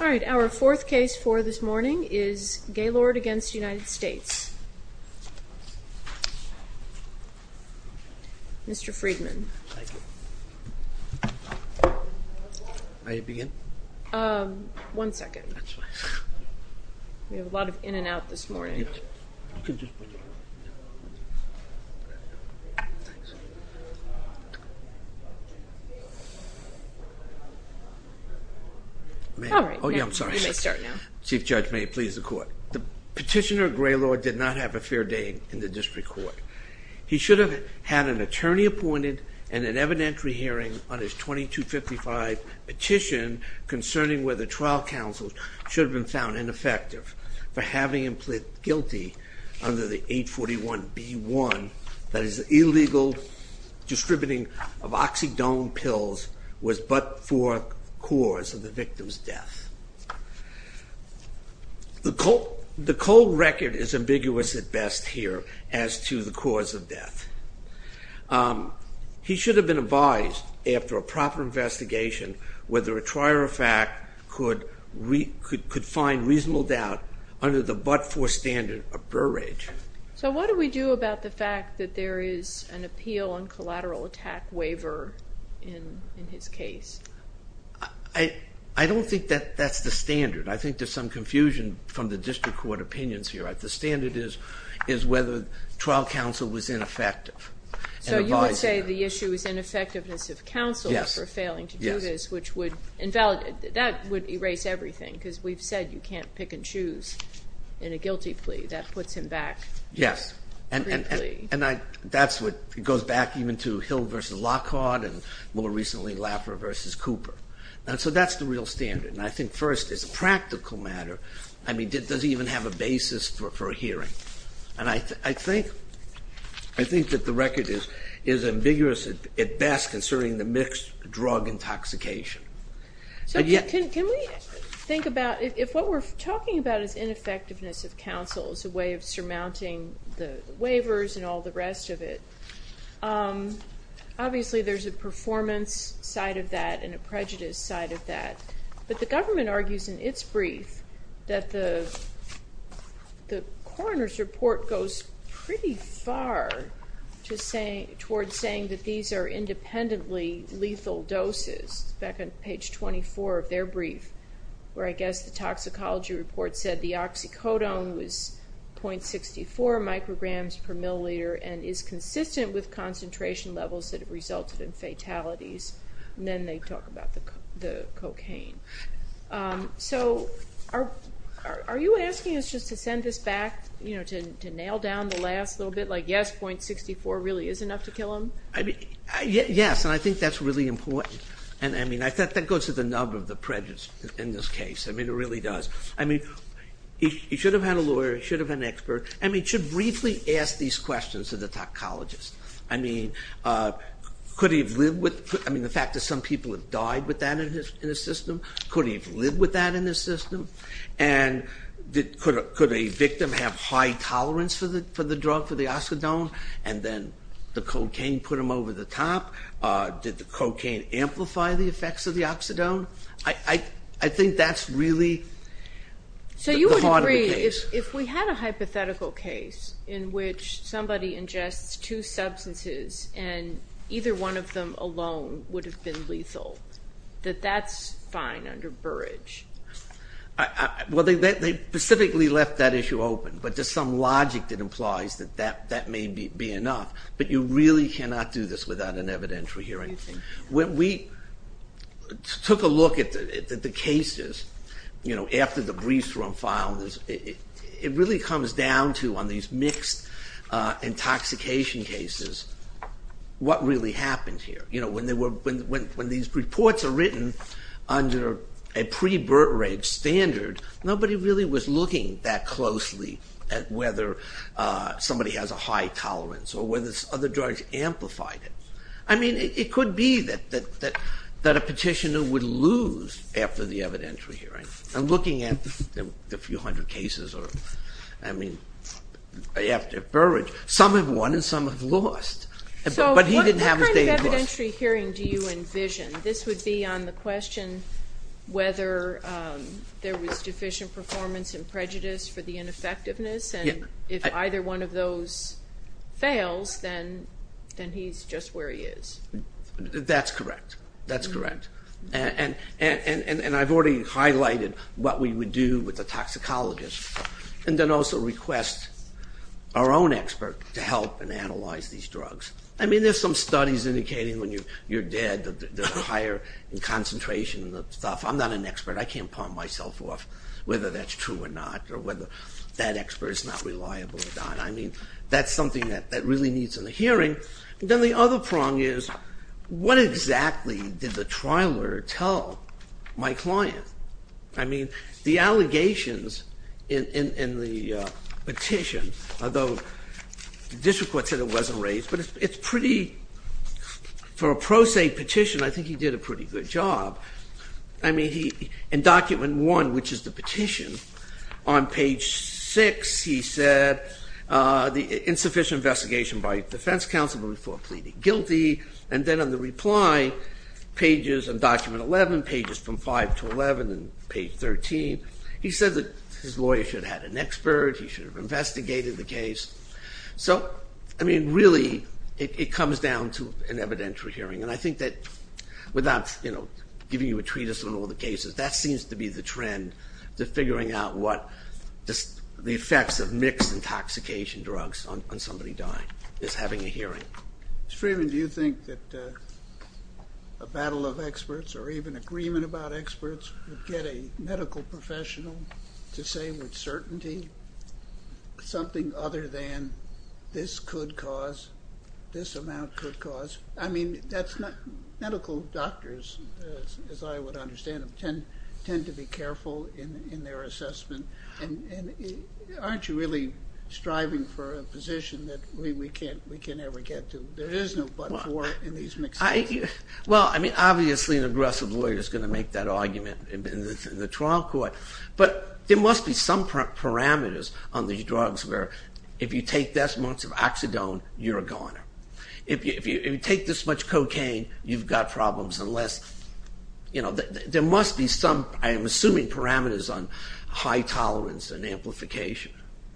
All right, our fourth case for this morning is Gaylord v. United States. Mr. Friedman. May I begin? One second. We have a lot of in and out this morning. Chief Judge, may it please the court. Petitioner Gaylord did not have a fair day in the district court. He should have had an attorney appointed and an evidentiary hearing on his 2255 petition concerning whether trial counsel should have been found ineffective for having him plead guilty under the 841B1 that his illegal distributing of oxydome pills was but for cause of the victim's death. The cold record is ambiguous at best here as to the cause of death. He should have been advised after a proper investigation whether a trier of fact could find reasonable doubt under the but-for standard of Burrage. So what do we do about the fact that there is an appeal on collateral attack waiver in his case? I don't think that's the standard. I think there's some confusion from the district court opinions here. The standard is whether trial counsel was ineffective. So you would say the issue is ineffectiveness of counsel for failing to do this, which would invalidate, that would erase everything because we've said you can't pick and choose in a guilty plea. That puts him back. Yes. And that's what goes back even to Hill v. Lockhart and more recently Laffer v. Cooper. So that's the real standard. And I think first as a practical matter, I mean, does he even have a basis for a hearing? And I think that the record is ambiguous at best concerning the mixed drug intoxication. So can we think about if what we're talking about is ineffectiveness of counsel as a way of surmounting the waivers and all the rest of it, obviously there's a performance side of that and a prejudice side of that. But the government argues in its brief that the coroner's report goes pretty far towards saying that these are independently lethal doses. It's back on page 24 of their brief where I guess the toxicology report said the oxycodone was 0.64 micrograms per milliliter and is consistent with concentration levels that have resulted in fatalities. And then they talk about the cocaine. So are you asking us just to send this back to nail down the last little bit, like, yes, 0.64 really is enough to kill him? Yes, and I think that's really important. And, I mean, that goes to the nub of the prejudice in this case. I mean, it really does. I mean, he should have had a lawyer. He should have had an expert. I mean, it should briefly ask these questions to the toxicologist. I mean, could he have lived with the fact that some people have died with that in his system? Could he have lived with that in his system? And could a victim have high tolerance for the drug, for the oxycodone, and then the cocaine put him over the top? Did the cocaine amplify the effects of the oxydone? I think that's really the heart of the case. So you would agree if we had a hypothetical case in which somebody ingests two substances and either one of them alone would have been lethal, that that's fine under Burrage? Well, they specifically left that issue open, but there's some logic that implies that that may be enough. But you really cannot do this without an evidentiary hearing. When we took a look at the cases, you know, after the briefs were unfiled, it really comes down to on these mixed intoxication cases what really happened here. You know, when these reports are written under a pre-Burrage standard, nobody really was looking that closely at whether somebody has a high tolerance or whether other drugs amplified it. I mean, it could be that a petitioner would lose after the evidentiary hearing. I'm looking at the few hundred cases, I mean, after Burrage. Some have won and some have lost. So what kind of evidentiary hearing do you envision? This would be on the question whether there was deficient performance in prejudice for the ineffectiveness, and if either one of those fails, then he's just where he is. That's correct. That's correct. And I've already highlighted what we would do with the toxicologists and then also request our own expert to help and analyze these drugs. I mean, there's some studies indicating when you're dead, there's a higher concentration of stuff. I'm not an expert. I can't pawn myself off whether that's true or not or whether that expert is not reliable or not. I mean, that's something that really needs a hearing. And then the other prong is what exactly did the trialer tell my client? I mean, the allegations in the petition, although the district court said it wasn't raised, but it's pretty, for a pro se petition, I think he did a pretty good job. I mean, in Document 1, which is the petition, on page 6 he said, insufficient investigation by defense counsel before pleading guilty. And then in the reply, pages in Document 11, pages from 5 to 11 and page 13, he said that his lawyer should have had an expert. He should have investigated the case. So, I mean, really it comes down to an evidentiary hearing. And I think that without giving you a treatise on all the cases, that seems to be the trend to figuring out what the effects of mixed intoxication drugs on somebody dying is having a hearing. Mr. Freeman, do you think that a battle of experts or even agreement about experts would get a medical professional to say with certainty something other than this could cause, this amount could cause? I mean, that's not, medical doctors, as I would understand them, tend to be careful in their assessment. And aren't you really striving for a position that we can't ever get to? There is no but for in these mixed drugs. Well, I mean, obviously an aggressive lawyer is going to make that argument in the trial court. But there must be some parameters on these drugs where if you take this amount of oxydone, you're a goner. If you take this much cocaine, you've got problems. Unless, you know, there must be some, I am assuming, parameters on high tolerance and amplification.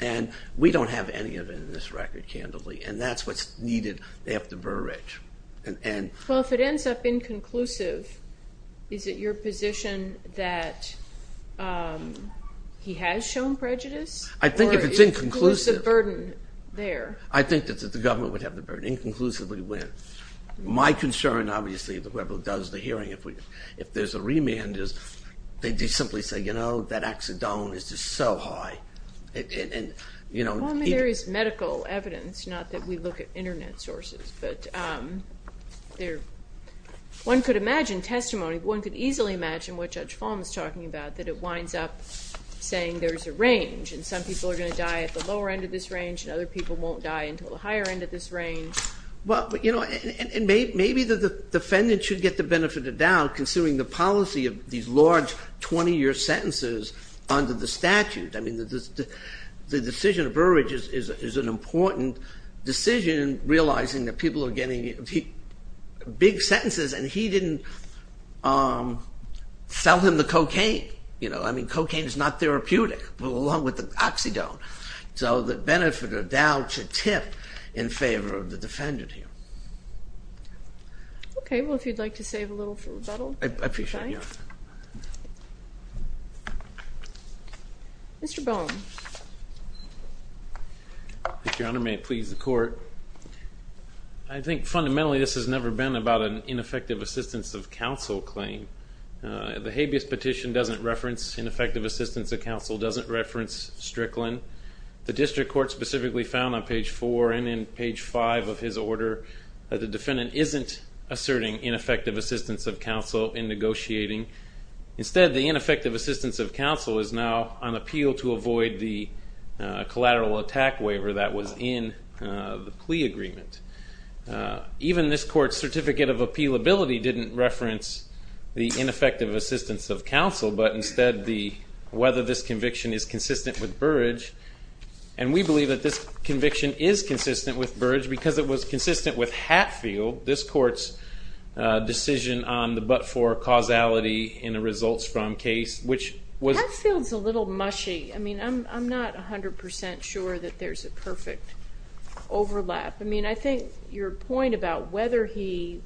And we don't have any of it in this record, candidly. And that's what's needed. They have to be rich. Well, if it ends up inconclusive, is it your position that he has shown prejudice? I think if it's inconclusive. Or if it includes the burden there. I think that the government would have the burden, inconclusively win. My concern, obviously, whoever does the hearing, if there's a remand, they just simply say, you know, that oxydone is just so high. Well, I mean, there is medical evidence, not that we look at Internet sources. But one could imagine testimony. One could easily imagine what Judge Falme is talking about, that it winds up saying there's a range. And some people are going to die at the lower end of this range. And other people won't die until the higher end of this range. Well, you know, and maybe the defendant should get the benefit of the doubt, considering the policy of these large 20-year sentences under the statute. I mean, the decision of Burridge is an important decision, realizing that people are getting big sentences. And he didn't sell him the cocaine. You know, I mean, cocaine is not therapeutic, along with the oxydone. So the benefit of doubt should tip in favor of the defendant here. Okay. Well, if you'd like to save a little for rebuttal. I appreciate you offering. Mr. Bowen. Your Honor, may it please the Court. I think fundamentally this has never been about an ineffective assistance of counsel claim. The habeas petition doesn't reference ineffective assistance of counsel, doesn't reference Strickland. The district court specifically found on page 4 and in page 5 of his order that the defendant isn't asserting ineffective assistance of counsel in negotiating. Instead, the ineffective assistance of counsel is now on appeal to avoid the collateral attack waiver that was in the plea agreement. Even this Court's certificate of appealability didn't reference the ineffective assistance of counsel, but instead whether this conviction is consistent with Burridge. And we believe that this conviction is consistent with Burridge because it was consistent with Hatfield, this Court's decision on the but-for causality in a results-from case, which was... Hatfield's a little mushy. I mean, I'm not 100 percent sure that there's a perfect overlap. I mean, I think your point about whether he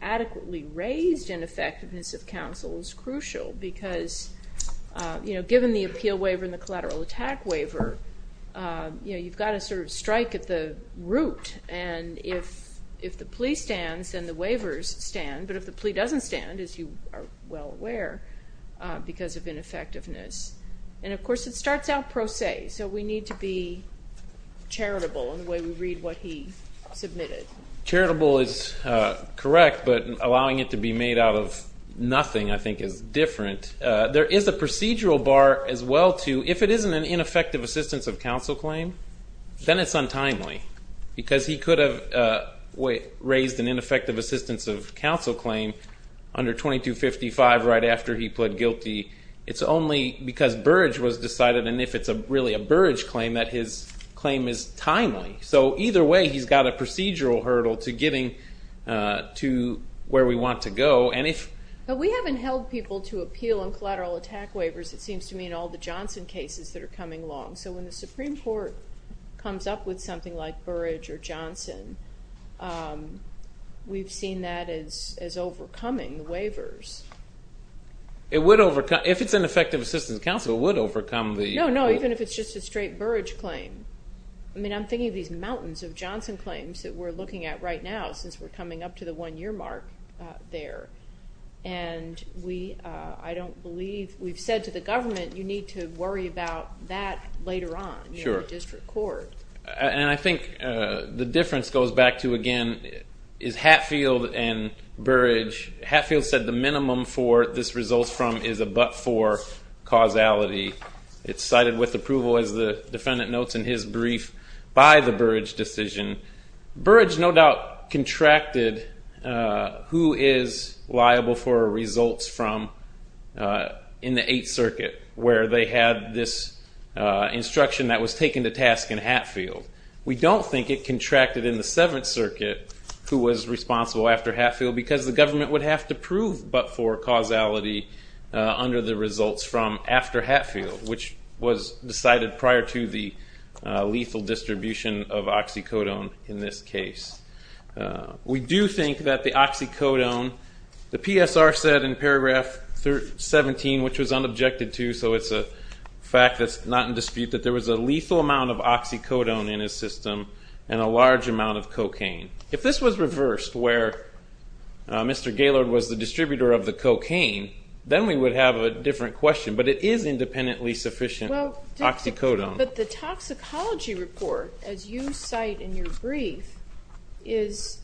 adequately raised ineffectiveness of counsel is crucial because, you know, given the appeal waiver and the collateral attack waiver, you know, you've got to sort of strike at the root. And if the plea stands, then the waivers stand. But if the plea doesn't stand, as you are well aware, because of ineffectiveness. And, of course, it starts out pro se, Okay, so we need to be charitable in the way we read what he submitted. Charitable is correct, but allowing it to be made out of nothing, I think, is different. There is a procedural bar as well, too. If it isn't an ineffective assistance of counsel claim, then it's untimely because he could have raised an ineffective assistance of counsel claim under 2255 right after he pled guilty. It's only because Burrage was decided, and if it's really a Burrage claim, that his claim is timely. So either way, he's got a procedural hurdle to getting to where we want to go. But we haven't held people to appeal on collateral attack waivers, it seems to me, in all the Johnson cases that are coming along. So when the Supreme Court comes up with something like Burrage or Johnson, we've seen that as overcoming the waivers. If it's an effective assistance of counsel, it would overcome the waivers. No, no, even if it's just a straight Burrage claim. I mean, I'm thinking of these mountains of Johnson claims that we're looking at right now since we're coming up to the one-year mark there. And I don't believe we've said to the government, you need to worry about that later on in the district court. And I think the difference goes back to, again, is Hatfield and Burrage. Hatfield said the minimum for this results from is a but-for causality. It's cited with approval, as the defendant notes in his brief, by the Burrage decision. Burrage no doubt contracted who is liable for results from in the Eighth Circuit, where they had this instruction that was taken to task in Hatfield. We don't think it contracted in the Seventh Circuit, who was responsible after Hatfield, because the government would have to prove but-for causality under the results from after Hatfield, which was decided prior to the lethal distribution of oxycodone in this case. We do think that the oxycodone, the PSR said in paragraph 17, which was unobjected to, so it's a fact that's not in dispute, that there was a lethal amount of oxycodone in his system and a large amount of cocaine. If this was reversed, where Mr. Gaylord was the distributor of the cocaine, then we would have a different question. But it is independently sufficient oxycodone. But the toxicology report, as you cite in your brief, is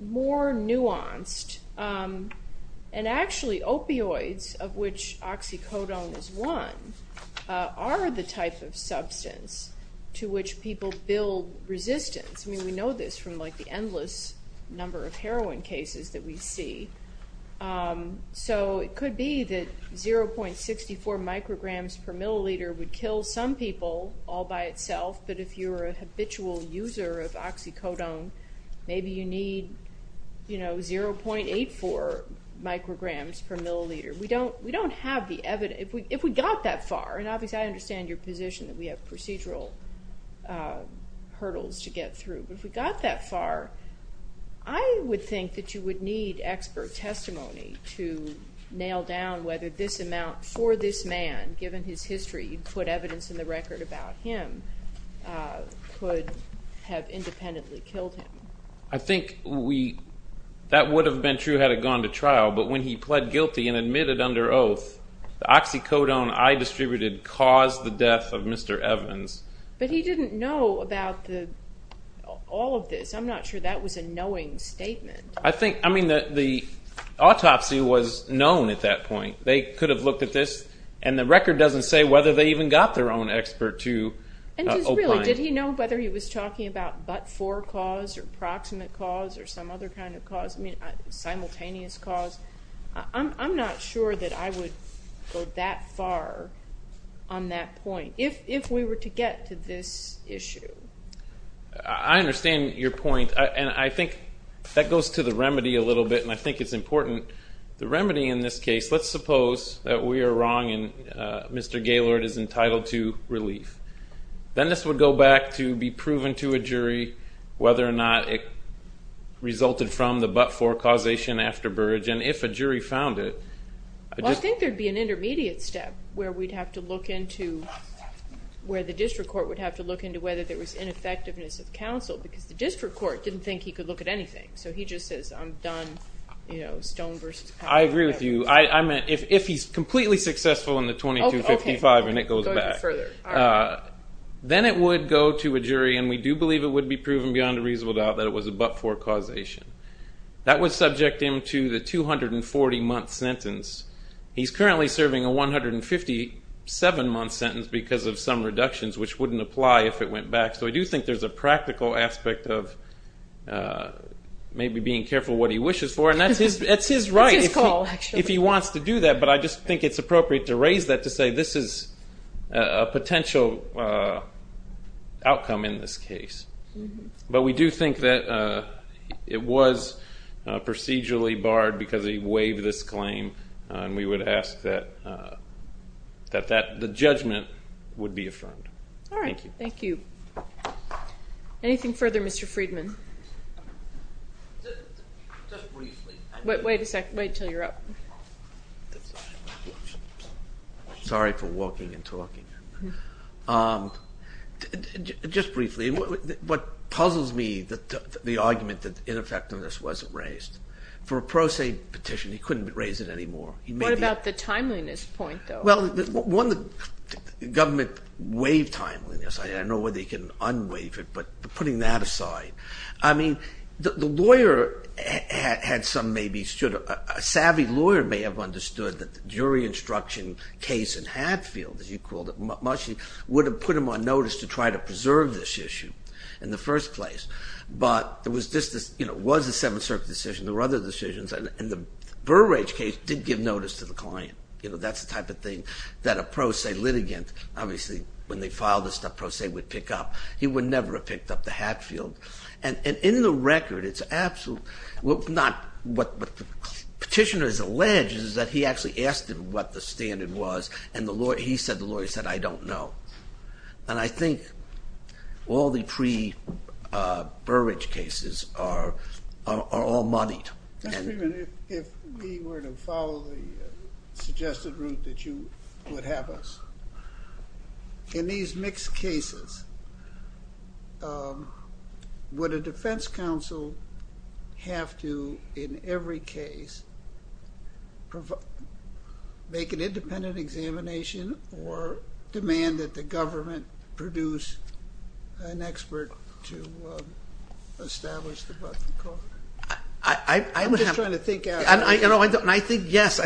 more nuanced. And actually opioids, of which oxycodone is one, are the type of substance to which people build resistance. I mean, we know this from, like, the endless number of heroin cases that we see. So it could be that 0.64 micrograms per milliliter would kill some people all by itself, but if you're a habitual user of oxycodone, maybe you need, you know, 0.84 micrograms per milliliter. We don't have the evidence. If we got that far, and obviously I understand your position that we have procedural hurdles to get through, but if we got that far, I would think that you would need expert testimony to nail down whether this amount for this man, given his history, you'd put evidence in the record about him, could have independently killed him. I think that would have been true had it gone to trial, but when he pled guilty and admitted under oath, the oxycodone I distributed caused the death of Mr. Evans. But he didn't know about all of this. I'm not sure that was a knowing statement. I think, I mean, the autopsy was known at that point. They could have looked at this, and the record doesn't say whether they even got their own expert to opine. And just really, did he know whether he was talking about but-for cause or proximate cause or some other kind of cause? I mean, simultaneous cause? I'm not sure that I would go that far on that point if we were to get to this issue. I understand your point, and I think that goes to the remedy a little bit, and I think it's important. The remedy in this case, let's suppose that we are wrong and Mr. Gaylord is entitled to relief. Then this would go back to be proven to a jury whether or not it resulted from the but-for causation after Burrage, and if a jury found it. Well, I think there would be an intermediate step where we'd have to look into, where the district court would have to look into whether there was ineffectiveness of counsel because the district court didn't think he could look at anything. So he just says, I'm done, you know, stone versus powder. I agree with you. I meant if he's completely successful in the 2255 and it goes back. Then it would go to a jury, and we do believe it would be proven beyond a reasonable doubt that it was a but-for causation. That would subject him to the 240-month sentence. He's currently serving a 157-month sentence because of some reductions, which wouldn't apply if it went back. So I do think there's a practical aspect of maybe being careful what he wishes for, and that's his right if he wants to do that, but I just think it's appropriate to raise that to say this is a potential outcome in this case. But we do think that it was procedurally barred because he waived this claim, and we would ask that the judgment would be affirmed. All right. Thank you. Anything further, Mr. Friedman? Just briefly. Wait a second. Wait until you're up. Sorry for walking and talking. Just briefly, what puzzles me, the argument that ineffectiveness wasn't raised. For a pro se petition, he couldn't raise it anymore. What about the timeliness point, though? Well, one, the government waived timeliness. I don't know whether you can unwaive it, but putting that aside. I mean, the lawyer had some maybe should, a savvy lawyer may have understood that the jury instruction case in Hatfield, as you called it, would have put him on notice to try to preserve this issue in the first place. But it was a Seventh Circuit decision. There were other decisions, and the Burrage case did give notice to the client. That's the type of thing that a pro se litigant, obviously when they filed this stuff, pro se would pick up. He would never have picked up the Hatfield. And in the record, what the petitioner has alleged is that he actually asked him what the standard was, and he said, the lawyer said, I don't know. And I think all the pre-Burrage cases are all muddied. Mr. Friedman, if we were to follow the suggested route that you would have us, in these mixed cases, would a defense counsel have to, in every case, make an independent examination or demand that the government produce an expert to establish the button code? I'm just trying to think. And I think, yes,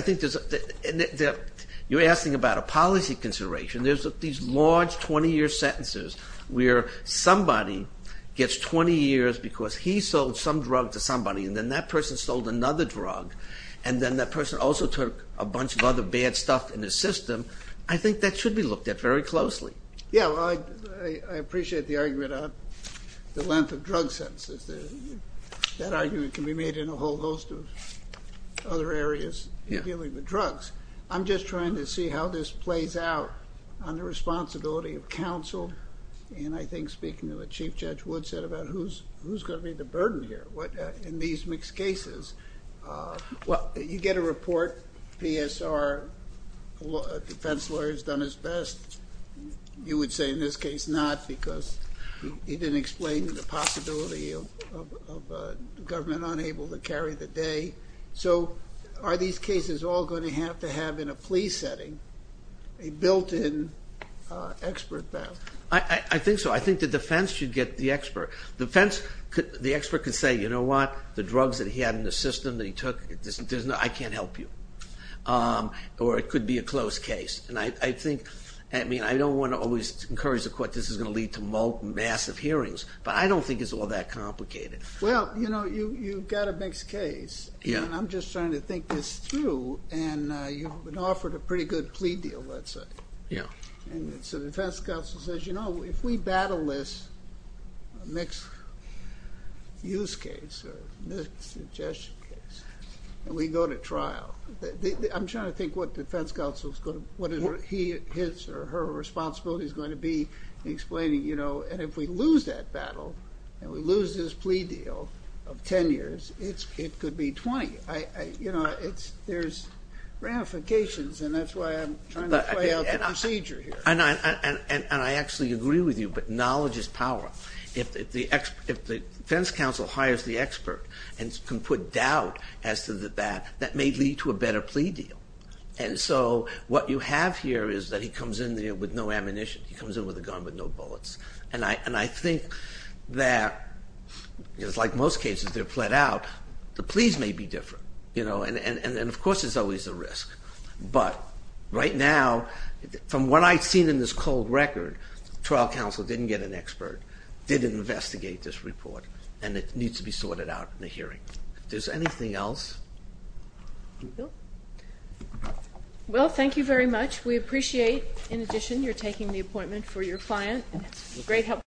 you're asking about a policy consideration. There's these large 20-year sentences where somebody gets 20 years because he sold some drug to somebody, and then that person sold another drug, and then that person also took a bunch of other bad stuff in his system. I think that should be looked at very closely. Yeah, well, I appreciate the argument on the length of drug sentences. That argument can be made in a whole host of other areas in dealing with drugs. I'm just trying to see how this plays out on the responsibility of counsel, and I think speaking to what Chief Judge Wood said about who's going to be the burden here in these mixed cases. Well, you get a report, PSR defense lawyer has done his best. You would say in this case not because he didn't explain the possibility of government unable to carry the day. So are these cases all going to have to have, in a plea setting, a built-in expert back? I think so. I think the defense should get the expert. The expert could say, you know what, the drugs that he had in the system that he took, I can't help you. Or it could be a close case. And I think, I mean, I don't want to always encourage the court this is going to lead to massive hearings, but I don't think it's all that complicated. Well, you know, you've got a mixed case, and I'm just trying to think this through, and you've been offered a pretty good plea deal, let's say. Yeah. And so the defense counsel says, you know, if we battle this mixed use case or mixed suggestion case, and we go to trial. I'm trying to think what defense counsel is going to, what his or her responsibility is going to be explaining, you know, and if we lose that battle and we lose this plea deal of 10 years, it could be 20. You know, there's ramifications, and that's why I'm trying to play out the procedure here. And I actually agree with you, but knowledge is power. If the defense counsel hires the expert and can put doubt as to that, that may lead to a better plea deal. And so what you have here is that he comes in there with no ammunition. He comes in with a gun with no bullets. And I think that, like most cases, they're plead out. The pleas may be different, you know, and of course there's always a risk. But right now, from what I've seen in this cold record, trial counsel didn't get an expert, didn't investigate this report, and it needs to be sorted out in a hearing. If there's anything else. No. Well, thank you very much. We appreciate, in addition, your taking the appointment for your client.